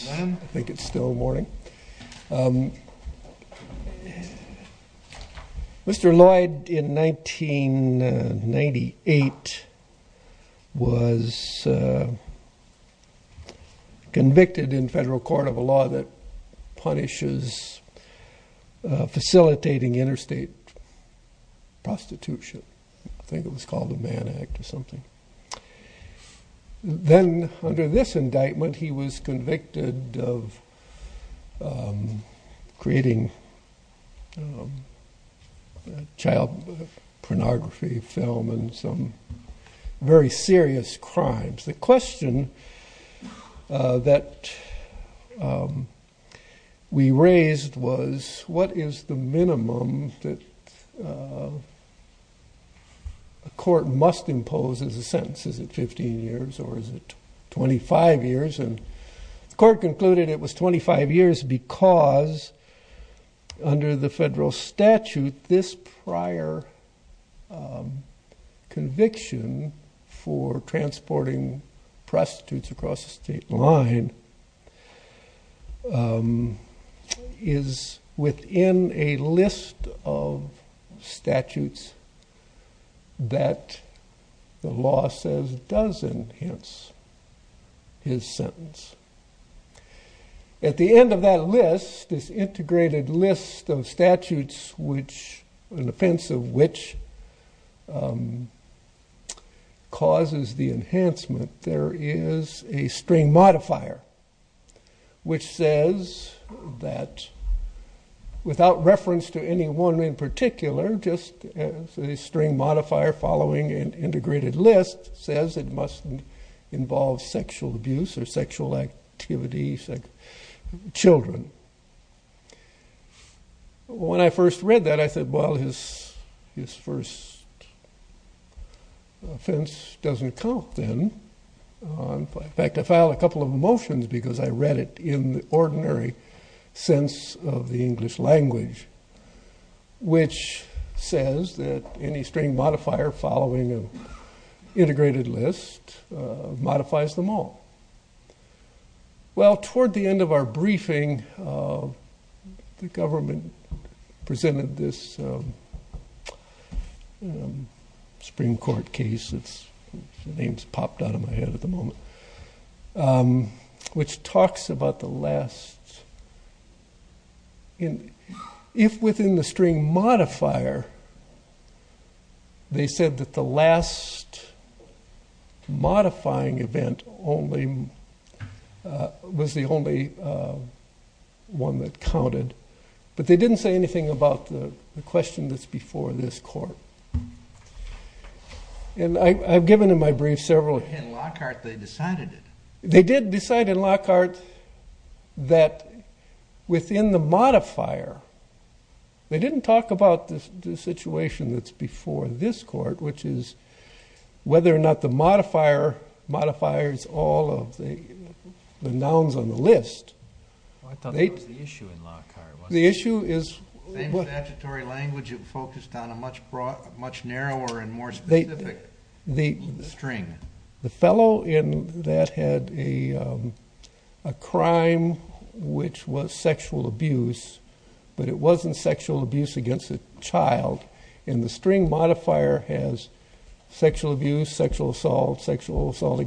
I think it's still morning. Mr. Loyd in 1998 was convicted in federal court of a law that punishes facilitating interstate prostitution. I think it was of creating child pornography film and some very serious crimes. The question that we raised was what is the minimum that a court must impose as a sentence? Is it 15 years or is it 25 years? And the court concluded it was 25 years because under the federal statute this prior conviction for transporting prostitutes across the state line is within a list of statutes that the law says does enhance his sentence. At the end of that list, this integrated list of statutes which an offense of which causes the enhancement, there is a string modifier which says that without reference to anyone in particular just a string modifier following an integrated list says it must involve sexual abuse or sexual activity, children. When I first read that I said well his first offense doesn't count then. In fact I filed a couple of motions because I read it in the ordinary sense of the English language which says that any string well toward the end of our briefing the government presented this Supreme Court case, the names popped out of my head at the moment, which talks about the last in if within the string modifier they said that the last modifying event only was the only one that counted. But they didn't say anything about the question that's before this court. And I've given in my brief several. In Lockhart they decided it. They did decide in Lockhart that within the modifier, they didn't talk about this situation that's before this court which is whether or not the the nouns on the list. I thought that was the issue in Lockhart. The issue is... In statutory language it focused on a much broader, much narrower and more specific string. The fellow in that had a crime which was sexual abuse but it wasn't sexual abuse against a child. And the string modifier has sexual abuse, sexual assault, sexual crime wasn't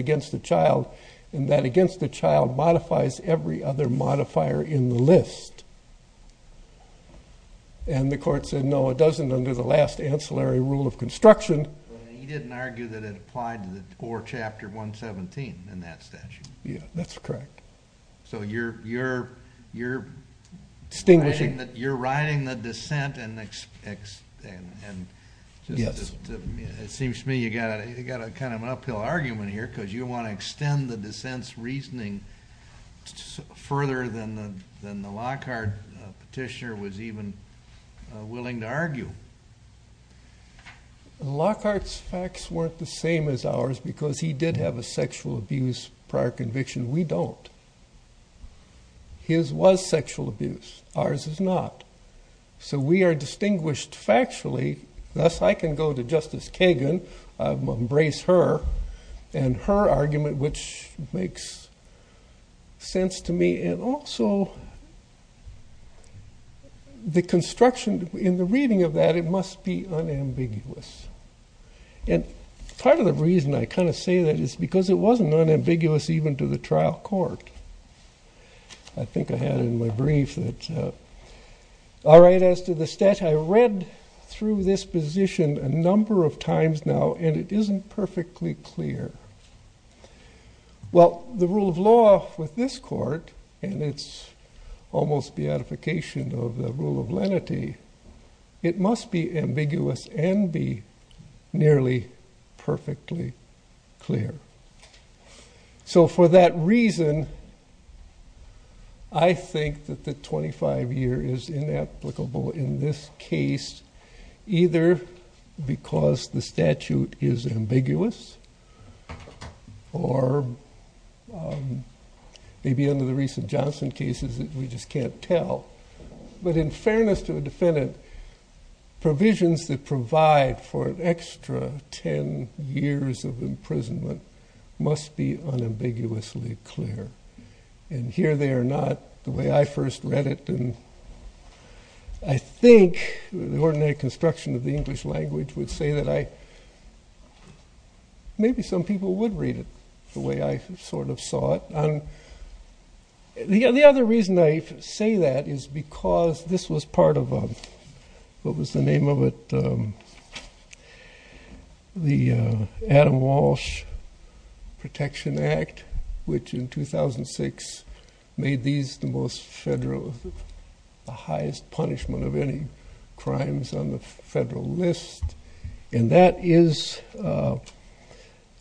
against the child. And that against the child modifies every other modifier in the list. And the court said no it doesn't under the last ancillary rule of construction. He didn't argue that it applied to the 4 chapter 117 in that statute. Yeah, that's correct. So you're, you're, you're... Distinguishing. You're riding the dissent and... Yes. It seems to me you got a, you got a kind of an uphill argument here because you want to extend the dissent's reasoning further than the Lockhart petitioner was even willing to argue. Lockhart's facts weren't the same as ours because he did have a sexual abuse prior conviction. We don't. His was sexual abuse, ours is not. So we are going to let Justice Kagan embrace her and her argument, which makes sense to me. And also the construction in the reading of that, it must be unambiguous. And part of the reason I kind of say that is because it wasn't unambiguous even to the trial court. I think I had it in my brief that... I read through this position a number of times now, and it isn't perfectly clear. Well the rule of law with this court, and it's almost beatification of the rule of lenity, it must be ambiguous and be nearly perfectly clear. So for that reason, I think that the 25-year is inapplicable in this case either because the statute is ambiguous or maybe under the recent Johnson cases that we just can't tell. But in fairness to a defendant, provisions that provide for an extra 10 years of imprisonment must be unambiguously clear. And here they are not, the way I first read it. And I think the ordinary construction of the English language would say that I... maybe some people would read it the way I sort of saw it. The other reason I say that is because this was part of what was the name of it? The Adam Walsh Protection Act, which in 2006 made these the most federal, the highest punishment of any crimes on the federal list. And that is, it's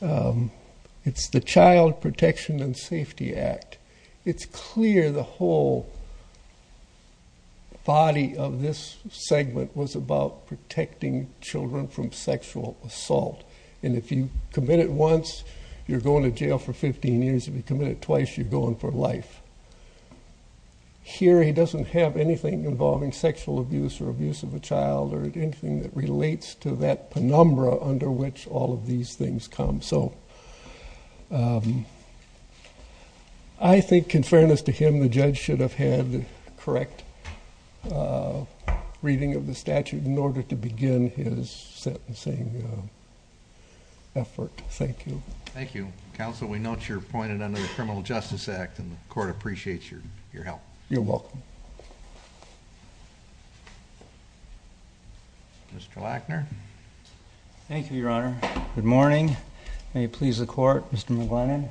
the Child Protection and Safety Act. It's clear the whole body of this segment was about protecting children from sexual assault. And if you commit it once, you're going to jail for 15 years. If you commit it twice, you're going for life. Here, he doesn't have anything involving sexual abuse or abuse of a child or anything that relates to that penumbra under which all of these things come. So I think in fairness to him, the judge should have had correct reading of the statute in order to begin his sentencing effort. Thank you. Thank you. Counsel, we note you're appointed under the Criminal Justice Act and the court appreciates your your help. You're welcome. Mr. Lackner. Thank you, Your Honor. Good morning. May it please the court, Mr. McGlennan.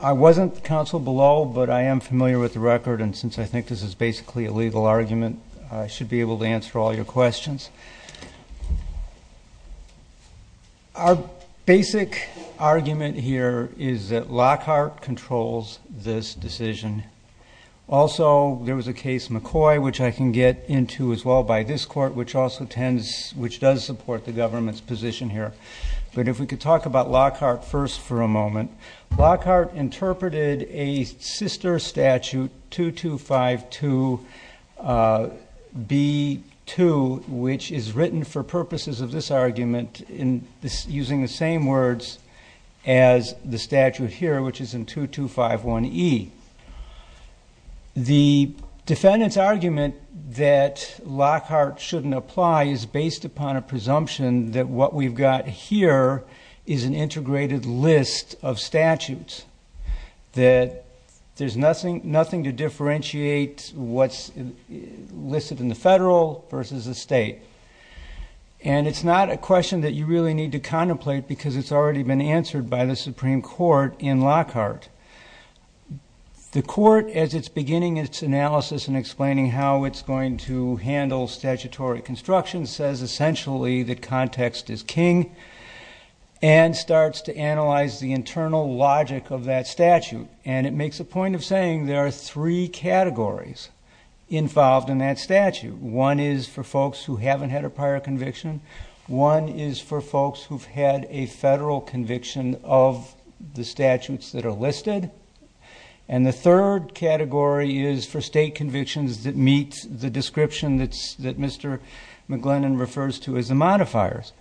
I wasn't counsel below, but I am familiar with the record and since I think this is basically a legal argument, I should be able to answer all your questions. Our basic argument here is that Lockhart controls this decision. Also, there was a case McCoy, which I can get into as well by this court, which also tends, which does support the government's position here. But if we could talk about Lockhart first for a moment. Lockhart interpreted a sister statute, 2252 B2, which is written for purposes of this argument in this using the same words as the statute here, which is in 2251 E. The defendant's argument that Lockhart shouldn't apply is based upon a presumption that what we've got here is an integrated list of statutes. That there's nothing to differentiate what's listed in the federal versus the state. And it's not a question that you really need to contemplate because it's already been answered by the Supreme Court in Lockhart. The court, as it's beginning its analysis and explaining how it's going to handle statutory construction, says essentially that context is king and starts to analyze the internal logic of that statute. And it makes a point of saying there are three categories involved in that statute. One is for folks who haven't had a prior conviction. One is for folks who've had a federal conviction of the statutes that are listed. And the third category is for state convictions that meet the standards that McLennan refers to as the modifiers.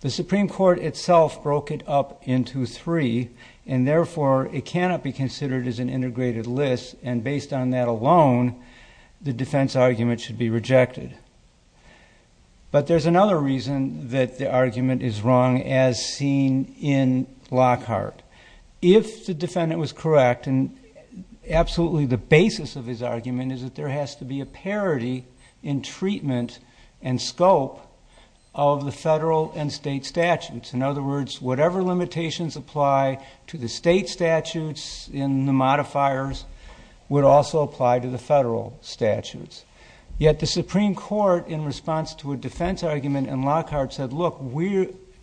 The Supreme Court itself broke it up into three and therefore it cannot be considered as an integrated list and based on that alone the defense argument should be rejected. But there's another reason that the argument is wrong as seen in Lockhart. If the defendant was correct and absolutely the basis of his argument is that there has to be a parity in treatment and scope of the federal and state statutes. In other words, whatever limitations apply to the state statutes in the modifiers would also apply to the federal statutes. Yet the Supreme Court in response to a defense argument in Lockhart said, look,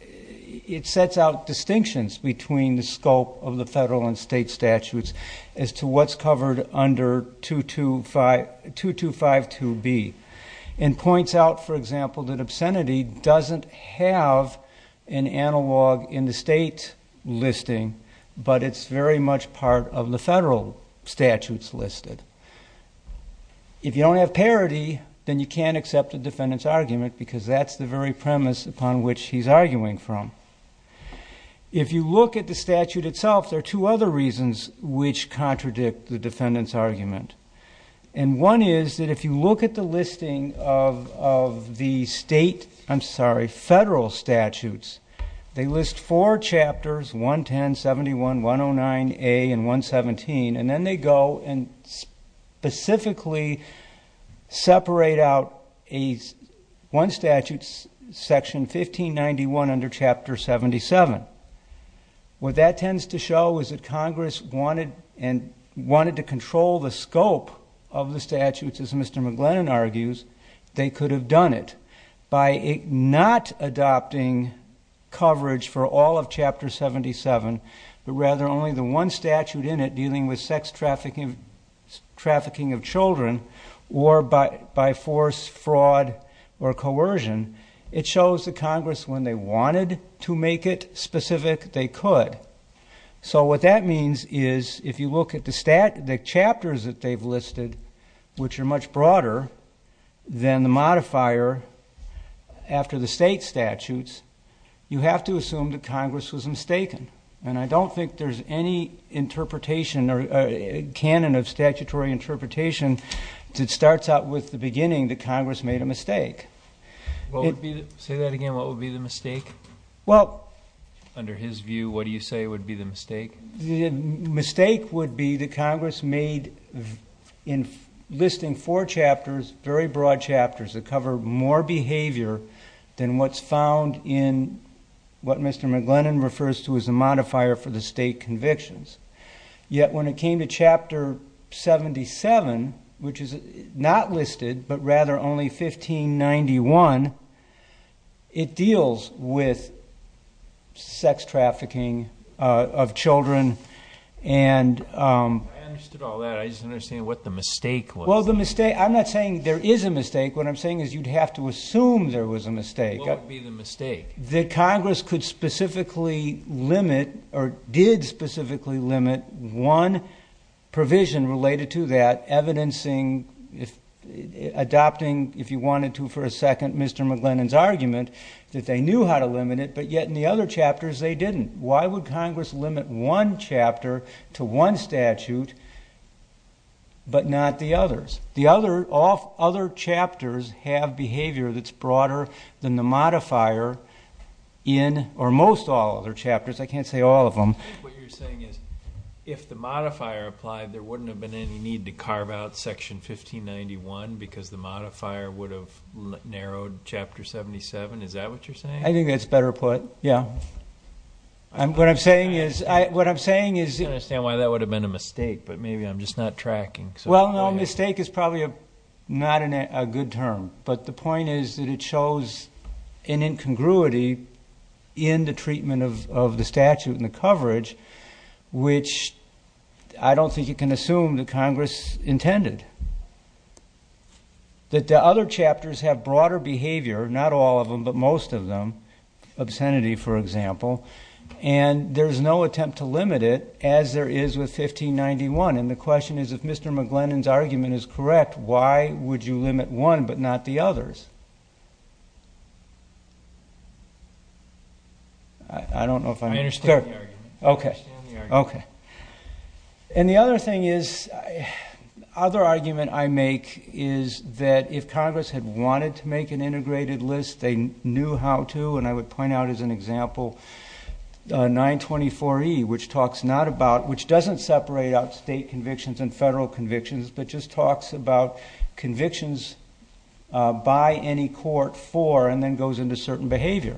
it sets out distinctions between the scope of the federal and state statutes as to what's covered under 2252B and points out, for example, that obscenity doesn't have an analog in the state listing but it's very much part of the federal statutes listed. If you don't have parity then you can't accept the defendant's argument because that's the very premise upon which he's arguing from. If you look at the statute itself there are two other reasons which contradict the defendant's argument. And one is that if you look at the listing of the state, I'm sorry, federal statutes they list four chapters 110, 71, 109A, and 117 and then they go and specifically separate out one statute section 1591 under chapter 77. What that tends to show is that Congress wanted and wanted to control the scope of the statutes as Mr. McGlennon argues they could have done it by not adopting coverage for all of chapter 77 but rather only the one statute in it dealing with sex trafficking of children or by force, fraud, or coercion. It shows that Congress, when they wanted to make it specific, they could. So what that means is if you look at the chapters that they've listed which are much broader than the modifier after the state statutes, you have to assume that Congress was mistaken. And I don't think there's any interpretation or canon of statutory interpretation that starts out with the beginning that Congress made a mistake. Well under his view what do you say would be the mistake? The mistake would be the Congress made in listing four chapters, very broad chapters, that cover more behavior than what's found in what Mr. McGlennon refers to as a modifier for the state convictions. Yet when it came to chapter 77 which is not 1991, it deals with sex trafficking of children and... I understood all that, I just don't understand what the mistake was. Well the mistake, I'm not saying there is a mistake what I'm saying is you'd have to assume there was a mistake. What would be the mistake? That Congress could specifically limit or did specifically limit one provision related to that, evidencing, adopting if you wanted to for a second Mr. McGlennon's argument that they knew how to limit it but yet in the other chapters they didn't. Why would Congress limit one chapter to one statute but not the others? The other chapters have behavior that's broader than the modifier in or most all other chapters, I can't say all of them. If the modifier applied there wouldn't have been any need to carve out section 1591 because the modifier would have narrowed chapter 77, is that what you're saying? I think that's better put, yeah. What I'm saying is... I don't understand why that would have been a mistake but maybe I'm just not tracking. Well no mistake is probably not a good term but the point is that it shows an incongruity in the I don't think you can assume that Congress intended. That the other chapters have broader behavior, not all of them but most of them, obscenity for example, and there's no attempt to limit it as there is with 1591 and the question is if Mr. McGlennon's argument is correct why would you limit one but not the others? I don't know if I'm... I understand the argument. Okay. And the other thing is, other argument I make is that if Congress had wanted to make an integrated list they knew how to and I would point out as an example 924E which talks not about, which doesn't separate out state convictions and federal convictions, but just talks about convictions by any court for and then goes into certain behavior.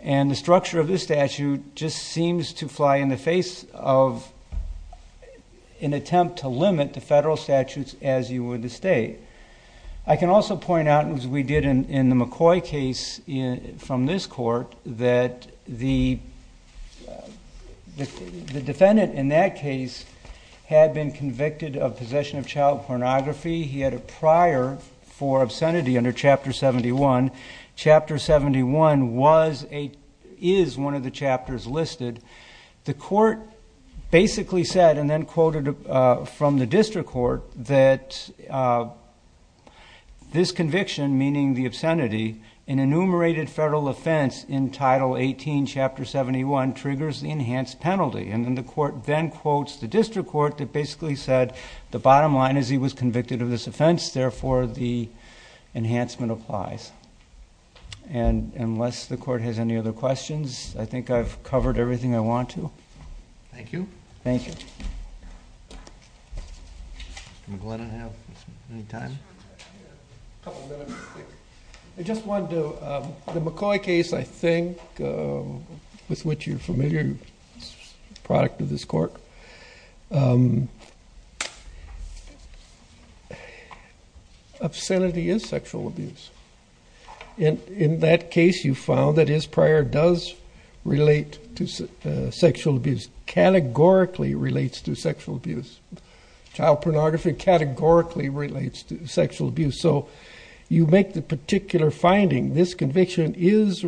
And the structure of this statute just seems to fly in the face of an attempt to limit the federal statutes as you would the state. I can also point out as we did in the McCoy case from this court that the defendant in that case had been convicted of possession of child pornography. He had a prior for obscenity under chapter 71. Chapter 71 was a, is one of the chapters listed. The court basically said and then quoted from the district court that this conviction, meaning the obscenity, an enumerated federal offense in title 18 chapter 71 triggers the enhanced penalty. And then the court then quotes the district court that basically said the bottom line is he was convicted of this offense therefore the enhancement applies. And unless the court has any other questions I think I've covered everything I want to. Thank you. Thank you. I just want to, the McCoy case I think with which you're familiar, product of this court, obscenity is sexual abuse. And in that case you found that his prior does relate to sexual abuse, categorically relates to sexual abuse. Child pornography categorically relates to sexual abuse. So you make the particular finding this conviction is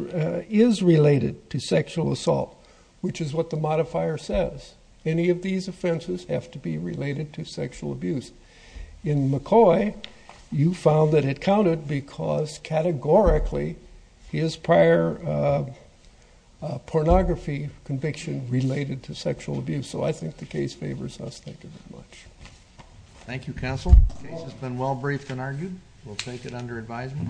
related to sexual assault, which is what the modifier says. Any of these offenses have to be related to sexual abuse. In McCoy you found that it counted because categorically his prior pornography conviction related to sexual abuse. So I think the case favors us. Thank you very much. Thank you. Counsel has been well briefed and argued. We'll take it under advisement.